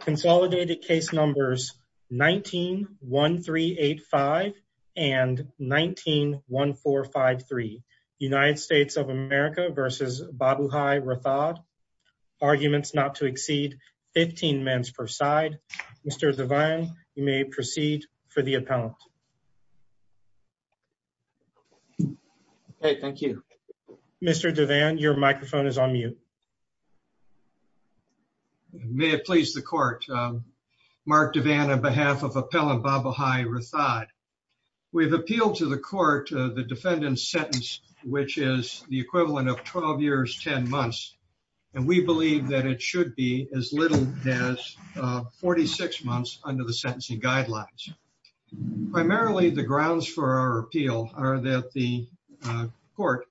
Consolidated case numbers 19-1385 and 19-1453. United States of America v. Babubhai Rathod. Arguments not to exceed 15 minutes per side. Mr. Devan, you may proceed for the appellant. Okay, thank you. Mr. Devan, your microphone is on mute. May it please the court. Mark Devan on behalf of Appellant Babubhai Rathod. We've appealed to the court the defendant's sentence, which is the equivalent of 12 years 10 months, and we believe that it should be as little as 46 months under the sentencing guidelines. Primarily, the grounds for our appeal are that the court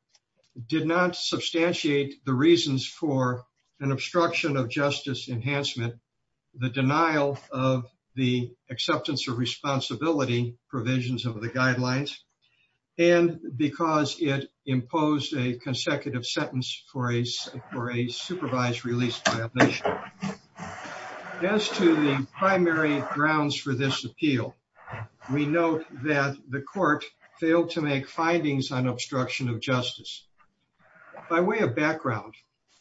did not substantiate the reasons for an obstruction of justice enhancement, the denial of the acceptance of responsibility provisions of the guidelines, and because it imposed a consecutive sentence for a supervised release. As to the primary grounds for this appeal, we note that the court failed to make findings on obstruction of justice. By way of background,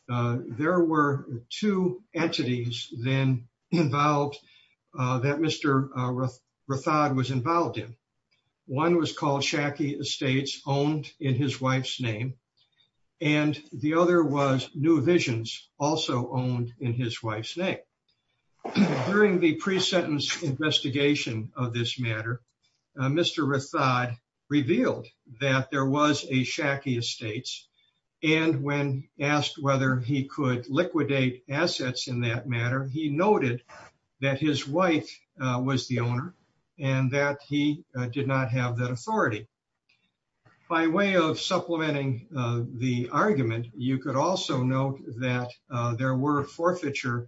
there were two entities then involved that Mr. Rathod was involved in. One was called Shacky Estates, owned in his wife's name, and the other was New Visions, also owned in his wife's name. During the pre-sentence investigation of this matter, Mr. Rathod revealed that there was a Shacky Estates, and when asked whether he could liquidate assets in that matter, he noted that his wife was the owner and that he did not have that authority. By way of supplementing the argument, you could also note that there were forfeiture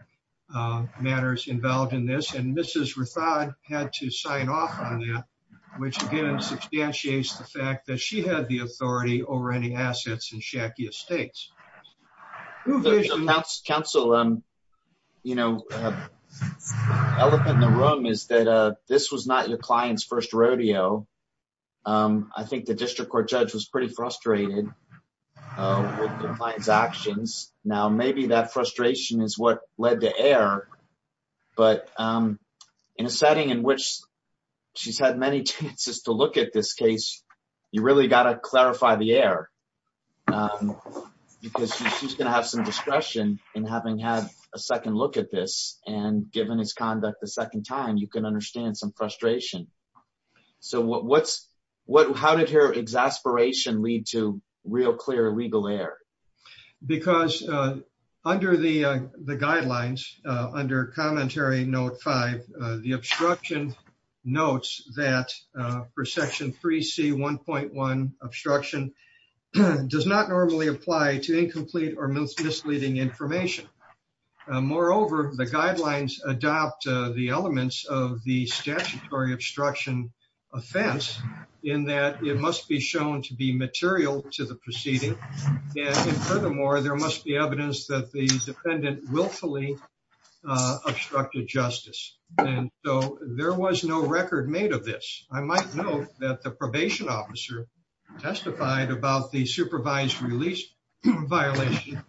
matters involved in this, and Mrs. Rathod had to sign off on that, which again substantiates the fact that she had the authority over any assets in Shacky Estates. The counsel elephant in the room is that this was not your client's first rodeo. I think the district court judge was pretty frustrated with the client's actions. Now, maybe that frustration is what led to error, but in a setting in which she's had many chances to look at this case, you really got to clarify the error, because she's going to have some discretion in having had a second look at this, and given his conduct the second time, you can understand some frustration. So, how did her exasperation lead to real clear illegal error? Because under the guidelines, under Commentary Note 5, the obstruction notes that for Section 3C1.1, obstruction does not normally apply to incomplete or misleading information. Moreover, the guidelines adopt the elements of the statutory obstruction offense, in that it furthermore, there must be evidence that the defendant willfully obstructed justice, and so there was no record made of this. I might note that the probation officer testified about the supervised release violation,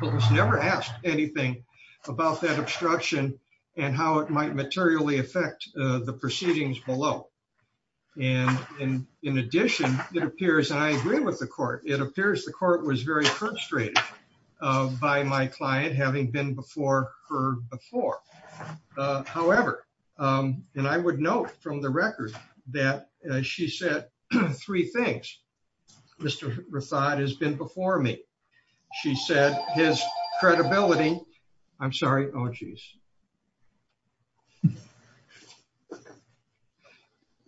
but was never asked anything about that obstruction and how it might materially affect the proceedings below. And in addition, it appears, and I agree with the court, it appears the court was very frustrated by my client having been before her before. However, and I would note from the record that she said three things. Mr. Rathod has been before me. She said his credibility... I'm sorry. Oh, geez.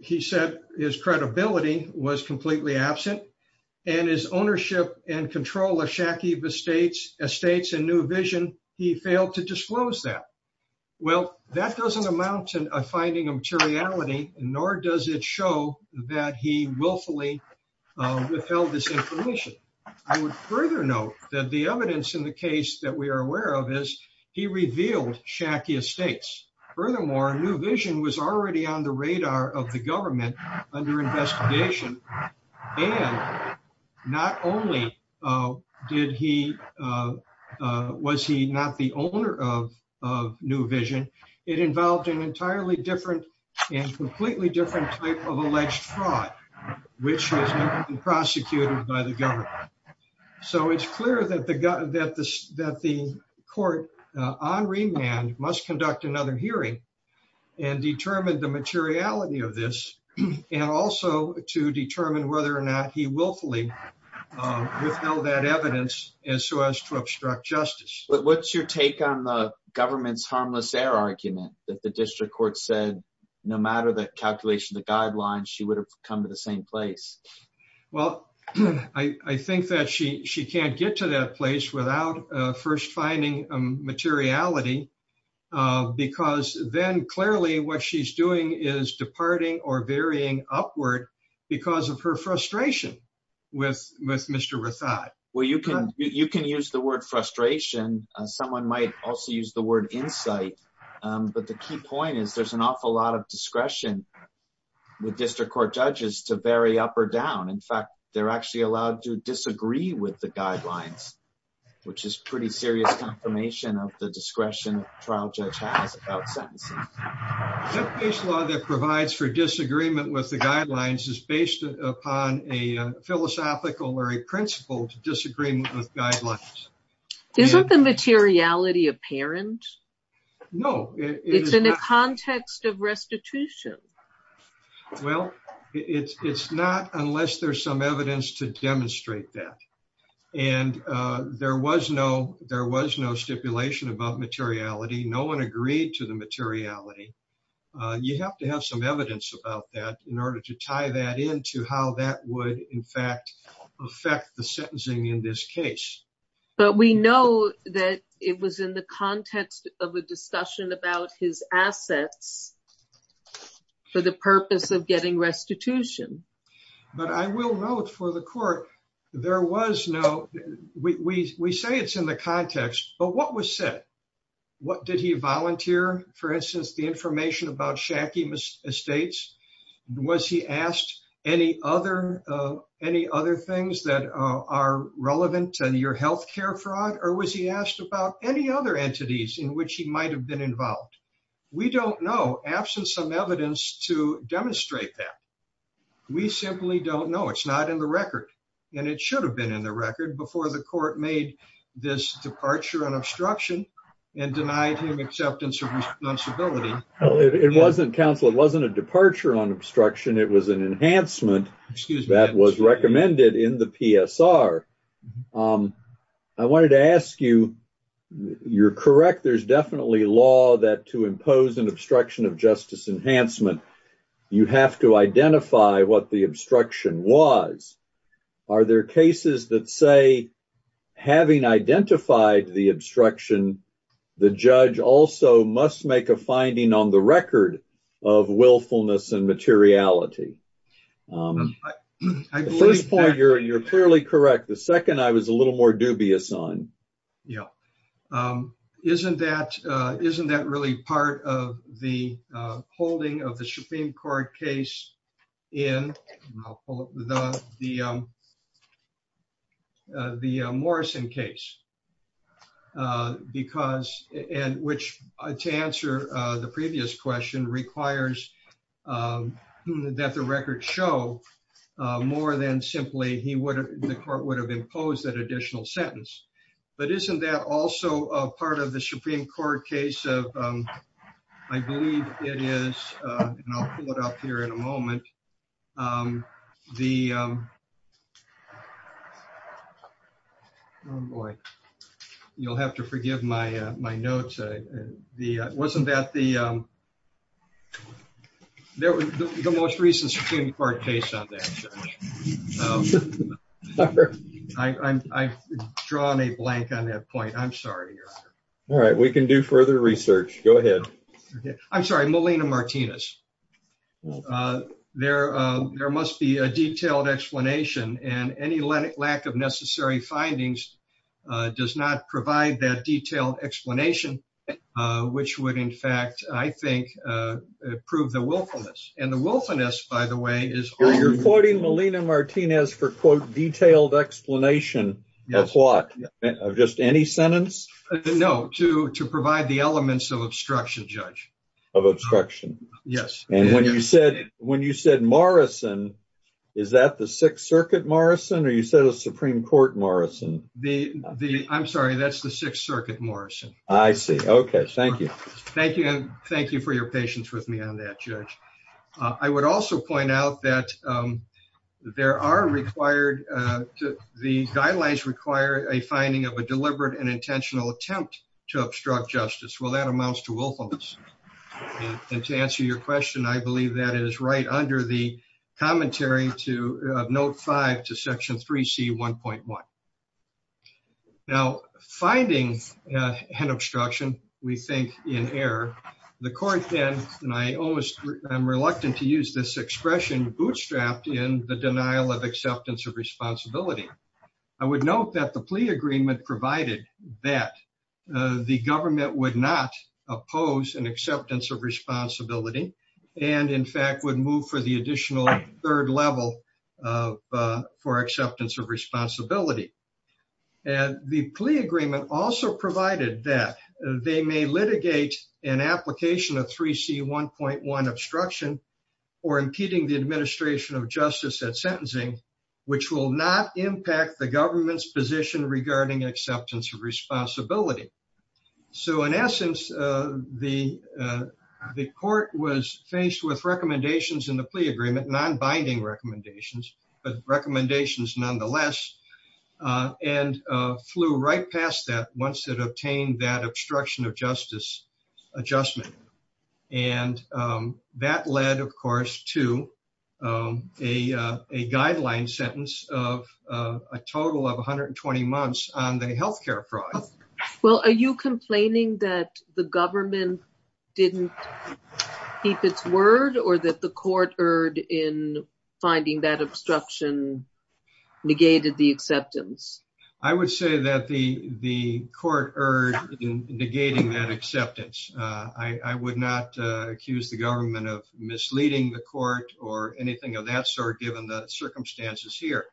He said his credibility was completely absent, and his ownership and control of Shakiva Estates and New Vision, he failed to disclose that. Well, that doesn't amount to a finding of materiality, nor does it show that he willfully withheld this information. I would further note that the evidence in the case that we are aware of is he revealed Shakiva Estates and New Vision, and he did not reveal Shakiva Estates. Furthermore, New Vision was already on the radar of the government under investigation, and not only was he not the owner of New Vision, it involved an entirely different and completely different type of alleged fraud, which has been prosecuted by the government. So it's clear that the court on remand must conduct another hearing and determine the materiality of this, and also to determine whether or not he willfully withheld that evidence as to obstruct justice. But what's your take on the government's harmless heir argument that the district court said no matter the calculation of the guidelines, she would have come to the same place? Well, I think that she can't get to that place without first finding materiality, because then clearly what she's doing is departing or varying upward because of her frustration with Mr. Rathod. Well, you can use the word frustration, someone might also use the word insight, but the key point is there's an awful lot of discretion with district court judges to vary up or down. In fact, they're actually allowed to disagree with the guidelines, which is pretty serious confirmation of the discretion trial judge has about sentencing. That case law that provides for disagreement with the guidelines is based upon a philosophical or a principled disagreement with guidelines. Isn't the materiality apparent? No, it's in the context of restitution. Well, it's not unless there's some evidence to demonstrate that. And there was no stipulation about materiality, no one agreed to the materiality. You have to have some evidence about that in order to tie that into how that would in fact, affect the sentencing in this case. But we know that it was in the context of a discussion about his assets for the purpose of getting restitution. But I will note for the court, there was no, we say it's in the context, but what was said? Did he volunteer, for instance, the information about Shacky Estates? Was he asked any other things that are relevant to your health care fraud? Or was he asked about any other entities in which he might have been involved? We don't know, absent some evidence to demonstrate that. We simply don't know. It's not in the record. And it should have been in the record before the court made this departure and obstruction and denied him acceptance of responsibility. Well, it wasn't counsel. It wasn't a departure on obstruction. It was an enhancement that was recommended in the PSR. I wanted to ask you, you're correct. There's definitely law that to impose an obstruction of justice enhancement, you have to identify what the obstruction was. Are there cases that say, having identified the obstruction, the judge also must make a finding on the record of willfulness and materiality? First point, you're clearly correct. The second I was a little more dubious on. Yeah. Isn't that really part of the holding of the Supreme Court case in the Morrison case? Because and which to answer the previous question requires that the record show more than simply he would, the court would have imposed that additional sentence. But isn't that also a part of the Supreme Court case? I believe it is. And I'll pull it up here in a moment. You'll have to forgive my notes. Wasn't that the most recent Supreme Court case on that? I've drawn a blank on that point. I'm sorry. All right. We can do further research. Go ahead. I'm sorry. Melina Martinez. There must be a detailed explanation and any lack of necessary findings does not provide that detailed explanation, which would, in fact, I think, prove the willfulness. And the willfulness, by the way, is... You're quoting Melina Martinez for, quote, detailed explanation of what? Just any sentence? No. To provide the elements of obstruction, Judge. Of obstruction. Yes. And when you said Morrison, is that the Sixth Circuit Morrison or you said a Supreme Court Morrison? I'm sorry. That's the Sixth Circuit Morrison. I see. Okay. Thank you. Thank you. And thank you for your patience with me on that, Judge. I would also point out that there are required... The guidelines require a finding of a deliberate and intentional attempt to obstruct justice. Well, that amounts to willfulness. And to answer your question, I believe that is right under the commentary to Note 5 to Section 3C1.1. Now, finding an obstruction, we think, in error. The court then... And I'm reluctant to use this draft in the denial of acceptance of responsibility. I would note that the plea agreement provided that the government would not oppose an acceptance of responsibility and, in fact, would move for the additional third level for acceptance of responsibility. And the plea agreement also provided that they may litigate an application of 3C1.1 obstruction or impeding the administration of justice at sentencing, which will not impact the government's position regarding acceptance of responsibility. So, in essence, the court was faced with recommendations in the plea agreement, non-binding recommendations, but recommendations nonetheless, and flew right past that once it to a guideline sentence of a total of 120 months on the health care fraud. Well, are you complaining that the government didn't keep its word or that the court erred in finding that obstruction negated the acceptance? I would say that the court erred in negating that leading the court or anything of that sort, given the circumstances here.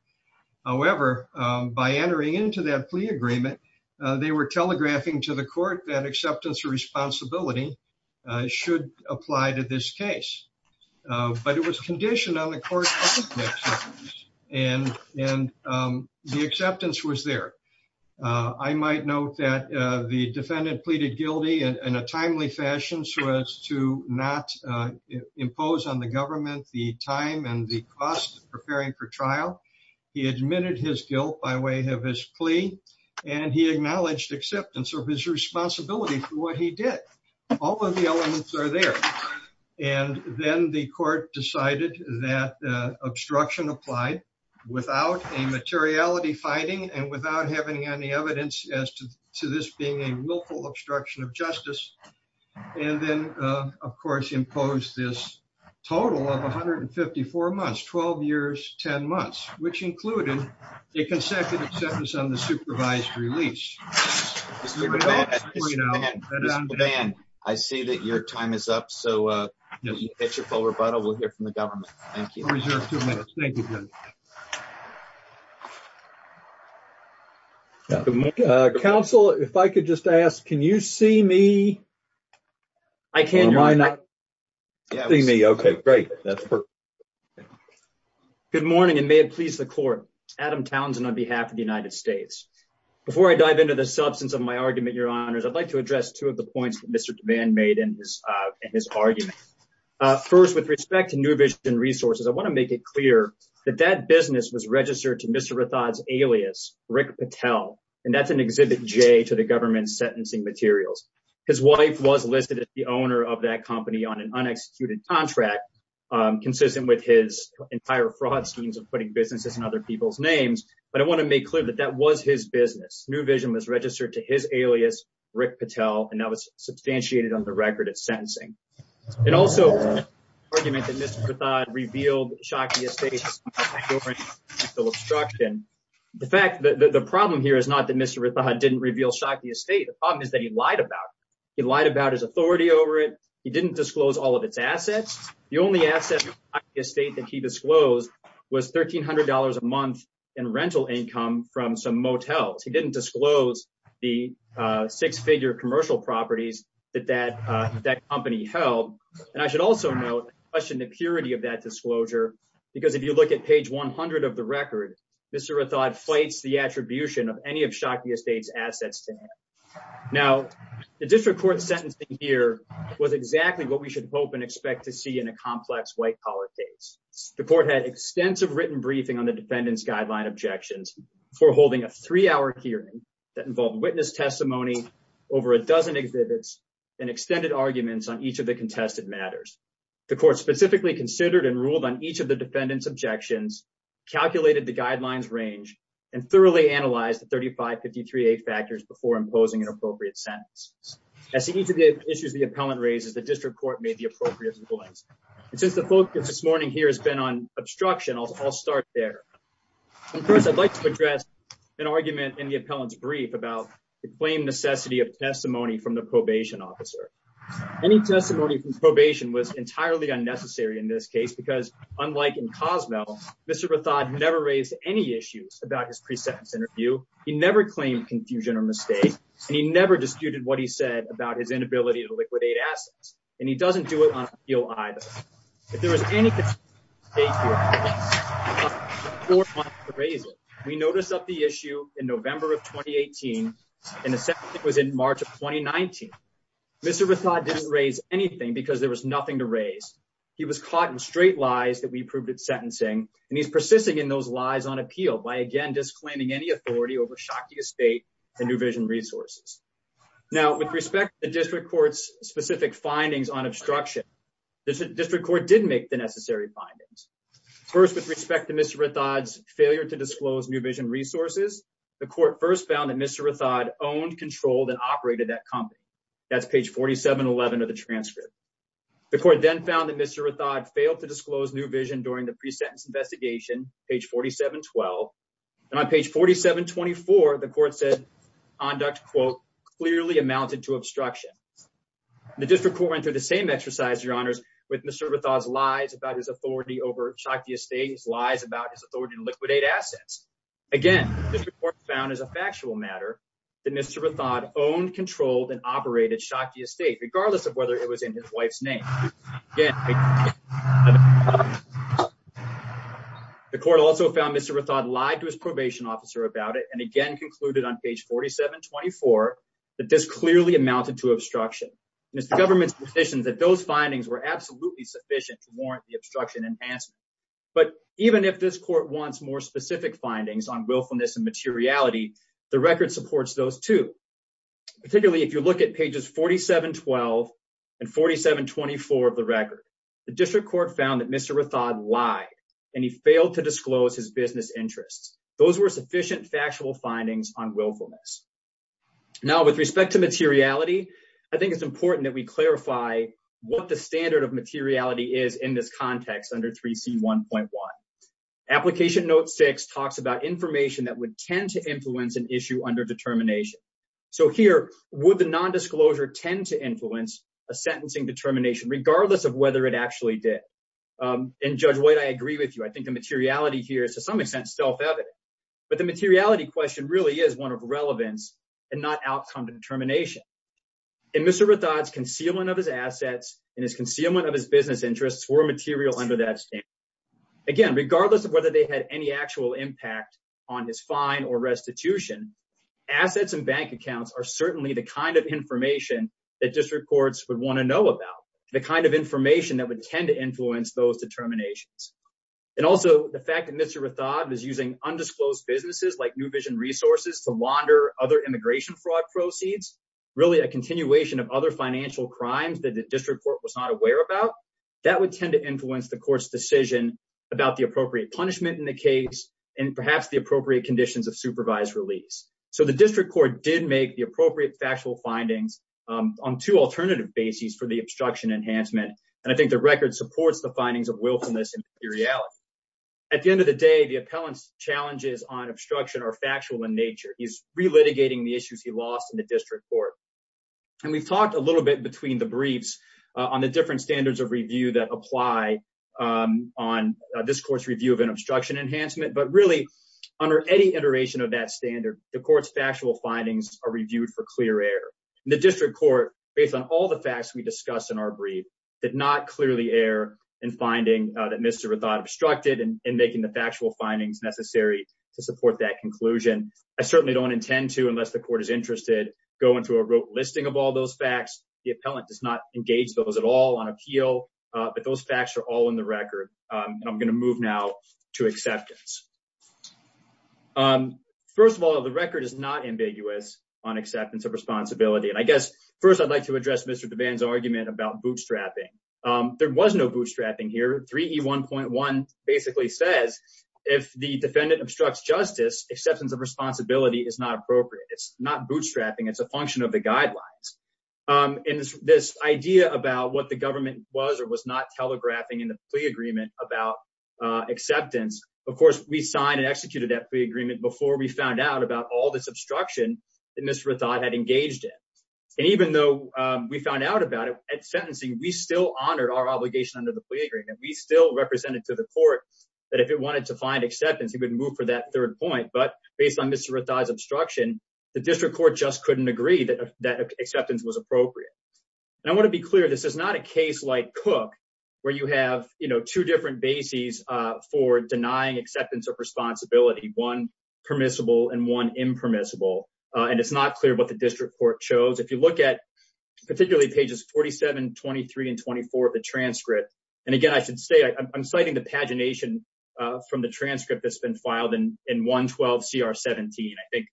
However, by entering into that plea agreement, they were telegraphing to the court that acceptance of responsibility should apply to this case. But it was conditioned on the court's public acceptance. And the acceptance was there. I might note that the defendant pleaded guilty in a timely fashion so as to not impose on the government the time and the cost of preparing for trial. He admitted his guilt by way of his plea, and he acknowledged acceptance of his responsibility for what he did. All of the elements are there. And then the court decided that obstruction applied without a materiality fighting and without having any evidence as to this being a willful obstruction of justice. And then, of course, imposed this total of 154 months, 12 years, 10 months, which included a consecutive sentence on the supervised release. I see that your time is up. So if you pitch a full rebuttal, we'll hear from the government. We'll reserve two minutes. Thank you. Counsel, if I could just ask, can you see me? I can. Am I not seeing me? Okay, great. Good morning, and may it please the court. Adam Townsend on behalf of the United States. Before I dive into the substance of my argument, your honors, I'd like to address two of the I want to make it clear that that business was registered to Mr. Rathod's alias, Rick Patel, and that's an Exhibit J to the government's sentencing materials. His wife was listed as the owner of that company on an unexecuted contract, consistent with his entire fraud schemes of putting businesses in other people's names. But I want to make clear that that was his business. New Vision was registered to his alias, Rick Patel, and that was substantiated on the record of sentencing. It also was an argument that Mr. Rathod revealed Shockey Estates during sexual obstruction. The problem here is not that Mr. Rathod didn't reveal Shockey Estates. The problem is that he lied about it. He lied about his authority over it. He didn't disclose all of its assets. The only asset in Shockey Estates that he disclosed was $1,300 a month in rental income from some motels. He didn't disclose the six-figure commercial properties that that company held. And I should also note and question the purity of that disclosure, because if you look at page 100 of the record, Mr. Rathod fights the attribution of any of Shockey Estates' assets. Now, the district court sentencing here was exactly what we should hope and expect to see in a complex white-collar case. The court had extensive written briefing on the defendant's guideline objections before holding a three-hour hearing that involved witness testimony, over a dozen exhibits, and extended arguments on each of the contested matters. The court specifically considered and ruled on each of the defendant's objections, calculated the guidelines range, and thoroughly analyzed the 3553A factors before imposing an appropriate sentence. As to each of the issues the appellant raises, the district court made the appropriate rulings. And since the focus this morning here has been on obstruction, I'll start there. First, I'd like to address an argument in the appellant's brief about the claim necessity of testimony from the probation officer. Any testimony from probation was entirely unnecessary in this case, because unlike in Cozumel, Mr. Rathod never raised any issues about his pre-sentence interview. He never claimed confusion or mistake, and he never disputed what he said about his inability to liquidate assets. And he doesn't do it on appeal and the second was in March of 2019. Mr. Rathod didn't raise anything because there was nothing to raise. He was caught in straight lies that we proved at sentencing, and he's persisting in those lies on appeal by, again, disclaiming any authority over Shakia State and New Vision Resources. Now, with respect to the district court's specific findings on obstruction, the district court did make the necessary findings. First, with respect to Mr. Rathod's failure to disclose New Vision Resources, the court first found that Mr. Rathod owned, controlled, and operated that company. That's page 4711 of the transcript. The court then found that Mr. Rathod failed to disclose New Vision during the pre-sentence investigation, page 4712. And on page 4724, the court said conduct, quote, clearly amounted to obstruction. The district court went through the same exercise, Your Honors, with Mr. Rathod's lies about his authority over Shakia State, his lies about his property. And again, the district court found as a factual matter that Mr. Rathod owned, controlled, and operated Shakia State, regardless of whether it was in his wife's name. The court also found Mr. Rathod lied to his probation officer about it and again concluded on page 4724 that this clearly amounted to obstruction. Mr. Government's position is that those findings were absolutely sufficient to warrant the obstruction enhancement. But even if this court wants more specific findings on willfulness and materiality, the record supports those too. Particularly if you look at pages 4712 and 4724 of the record, the district court found that Mr. Rathod lied and he failed to disclose his business interests. Those were sufficient factual findings on willfulness. Now with respect to materiality, I think it's important that we application note six talks about information that would tend to influence an issue under determination. So here, would the non-disclosure tend to influence a sentencing determination regardless of whether it actually did? And Judge White, I agree with you. I think the materiality here is to some extent self-evident, but the materiality question really is one of relevance and not outcome determination. In Mr. Rathod's concealment of his assets and his concealment of business interests were material under that standard. Again, regardless of whether they had any actual impact on his fine or restitution, assets and bank accounts are certainly the kind of information that district courts would want to know about. The kind of information that would tend to influence those determinations. And also the fact that Mr. Rathod is using undisclosed businesses like New Vision Resources to launder other immigration fraud proceeds, really a that would tend to influence the court's decision about the appropriate punishment in the case and perhaps the appropriate conditions of supervised release. So the district court did make the appropriate factual findings on two alternative bases for the obstruction enhancement. And I think the record supports the findings of wilfulness and materiality. At the end of the day, the appellant's challenges on obstruction are factual in nature. He's re-litigating the issues he lost in the district court. And we've talked a little bit between the briefs on the different standards of review that apply on this court's review of an obstruction enhancement. But really, under any iteration of that standard, the court's factual findings are reviewed for clear error. The district court, based on all the facts we discussed in our brief, did not clearly err in finding that Mr. Rathod obstructed and making the factual findings necessary to support that conclusion. I certainly don't intend to, unless the court is interested, go into a rote listing of all those facts. The appellant does not engage those at all on appeal. But those facts are all in the record. I'm going to move now to acceptance. First of all, the record is not ambiguous on acceptance of responsibility. And I guess, first, I'd like to address Mr. Devan's argument about bootstrapping. There was no bootstrapping here. 3E1.1 basically says if the defendant obstructs justice, acceptance of responsibility is not appropriate. It's not bootstrapping. It's a function of the guidelines. And this idea about what the government was or was not telegraphing in the plea agreement about acceptance, of course, we signed and executed that plea agreement before we found out about all this obstruction that Mr. Rathod had engaged in. And even though we found out about it at sentencing, we still honored our obligation under the plea agreement. We still represented to the court that if it wanted to find acceptance, it would move for that third point. But based on Mr. Rathod's obstruction, the district court just couldn't agree that acceptance was appropriate. And I want to be clear, this is not a case like Cook, where you have two different bases for denying acceptance of responsibility, one permissible and one impermissible. And it's not clear what the district court chose. If you look at particularly pages 47, 23, and 24 of the transcript, and again, I should say I'm citing the pagination from the transcript that's been filed in 112 CR 17. I think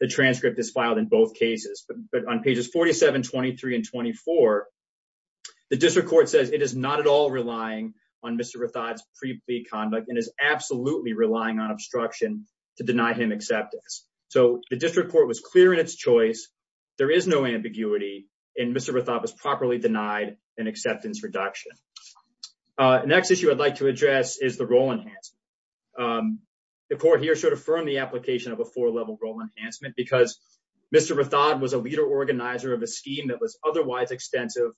the transcript is filed in both cases, but on pages 47, 23, and 24, the district court says it is not at all relying on Mr. Rathod's pre-plea conduct and is absolutely relying on obstruction to deny him acceptance. So the district court was clear in its choice. There is no ambiguity and Mr. Rathod was properly denied an acceptance reduction. Next issue I'd like to address is the role enhancement. The court here should affirm the application of a four-level role enhancement because Mr. Rathod was a leader organizer of a scheme that was otherwise extensive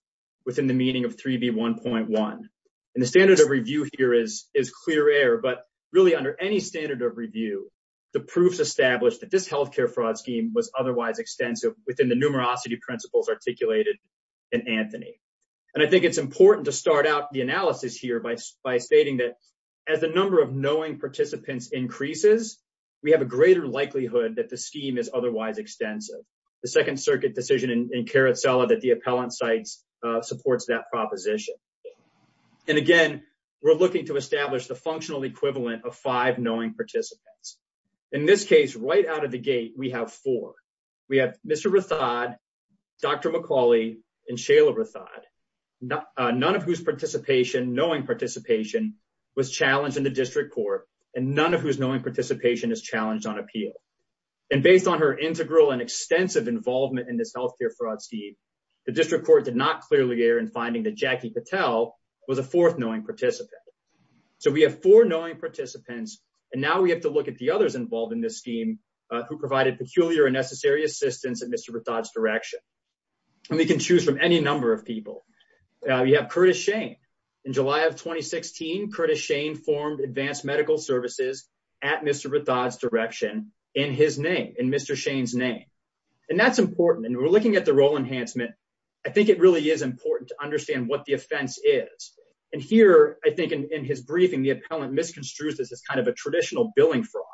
within the meaning of 3B1.1. And the standard of review here is clear air, but really under any standard of review, the proofs established that this healthcare fraud scheme was otherwise extensive within the numerosity principles articulated in Anthony. And I think it's important to start out the analysis here by stating that as the number of knowing participants increases, we have a greater likelihood that the scheme is otherwise extensive. The second circuit decision in Carrutzella that the appellant cites supports that proposition. And again, we're looking to establish the functional equivalent of five knowing participants. In this case, right out of the gate, we have four. We have Mr. Rathod, Dr. McCauley, and Shayla Rathod, none of whose participation, knowing participation was challenged in the district court and none of whose knowing participation is challenged on appeal. And based on her integral and extensive involvement in this healthcare fraud scheme, the district court did not clearly err in finding that Jackie Patel was a fourth knowing participant. So we have four knowing participants, and now we have to look at the others involved in this scheme who provided peculiar and necessary assistance at Mr. Rathod's direction. And we can choose from any number of people. We have Curtis Shane. In July of 2016, Curtis Shane formed advanced medical services at Mr. Rathod's direction in his name, in Mr. Shane's name. And that's important. And we're looking at the role enhancement. I think it really is important to understand what the offense is. And here, I think in his briefing, the appellant misconstrues this as kind of a traditional billing fraud,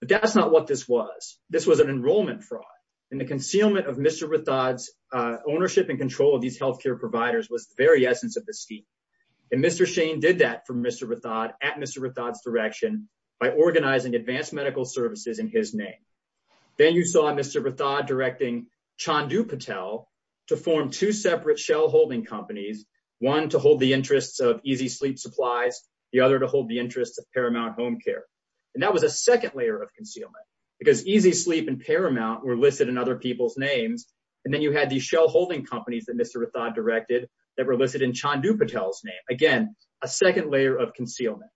but that's not what this was. This was an enrollment fraud. And the concealment of Mr. Rathod's ownership and control of these healthcare providers was the very essence of the scheme. And Mr. Shane did that for Mr. Rathod at Mr. Rathod's direction by organizing advanced medical services in his name. Then you saw Mr. Rathod directing Chandu Patel to form two separate shell holding companies, one to hold the interests of Easy Sleep Supplies, the other to hold the interests of Paramount Home Care. And that was a second layer of concealment because Easy Sleep and Paramount were listed in other people's names. And then you had these shell holding companies that Mr. Rathod directed that were listed in Chandu Patel's name. Again, a second layer of concealment.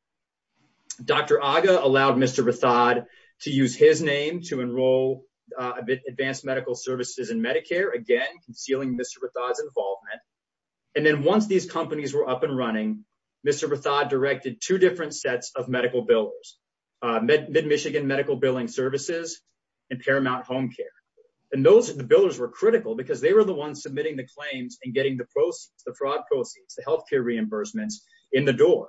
Dr. Agha allowed Mr. Rathod to use his name to enroll advanced medical services in Medicare, again, concealing Mr. Rathod's involvement. And then once these companies were up and running, Mr. Rathod directed two different sets of medical billers, MidMichigan Medical Billing Services and Paramount Home Care. And those are the billers were critical because they were the ones submitting the claims and getting the proceeds, the fraud proceeds, the healthcare reimbursements in the door.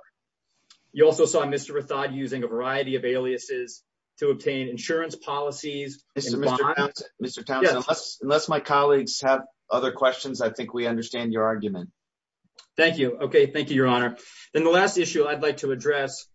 You also saw Mr. Rathod using a variety of aliases to obtain insurance policies. Mr. Townsend, unless my colleagues have other questions, I think we understand your argument. Thank you. Okay. Thank you, Your Honor. Then the last issue I'd like to address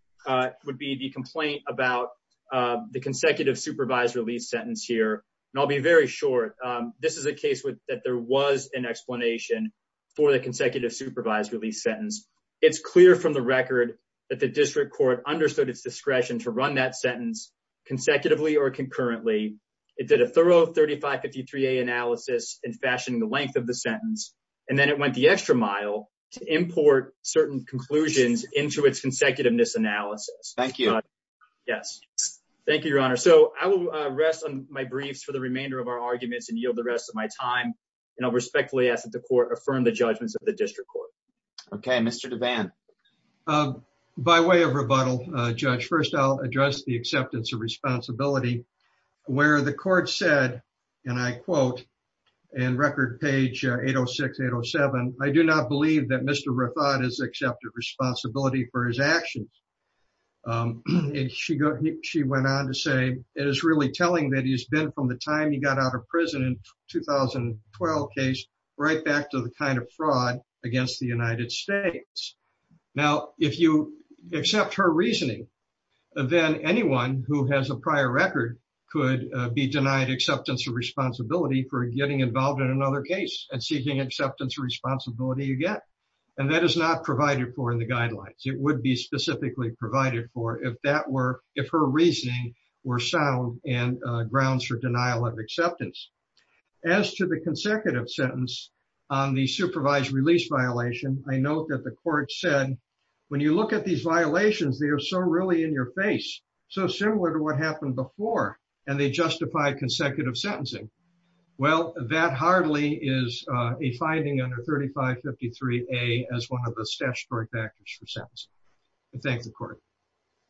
would be the complaint about the consecutive supervised release sentence here. And I'll be very short. This is a case that there was an explanation for the consecutive supervised sentence. It's clear from the record that the district court understood its discretion to run that sentence consecutively or concurrently. It did a thorough 3553A analysis and fashioning the length of the sentence. And then it went the extra mile to import certain conclusions into its consecutiveness analysis. Thank you. Yes. Thank you, Your Honor. So I will rest on my briefs for the remainder of our arguments and yield the rest of my time. And I'll respectfully ask that the court affirm the judgments of the district court. Okay, Mr. Devan. By way of rebuttal, Judge, first, I'll address the acceptance of responsibility, where the court said, and I quote, in record page 806-807, I do not believe that Mr. Rathod has accepted responsibility for his actions. And she went on to say, it is really telling that he's been, from the time he got out of prison in 2012 case, right back to the kind of fraud against the United States. Now, if you accept her reasoning, then anyone who has a prior record could be denied acceptance of responsibility for getting involved in another case and seeking acceptance of responsibility again. And that is not provided for in the guidelines. It would be specifically provided for if that were, if her reasoning were sound and grounds for denial of acceptance. As to the consecutive sentence on the supervised release violation, I know that the court said, when you look at these violations, they are so really in your face, so similar to what happened before, and they justify consecutive sentencing. Well, that hardly is a finding under 3553A as one of the statutory factors for sentencing. I thank the court.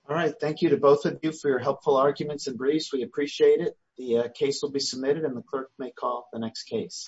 All right. Thank you to both of you for your helpful arguments and briefs. We appreciate it. The case will be submitted and the clerk may call the next case.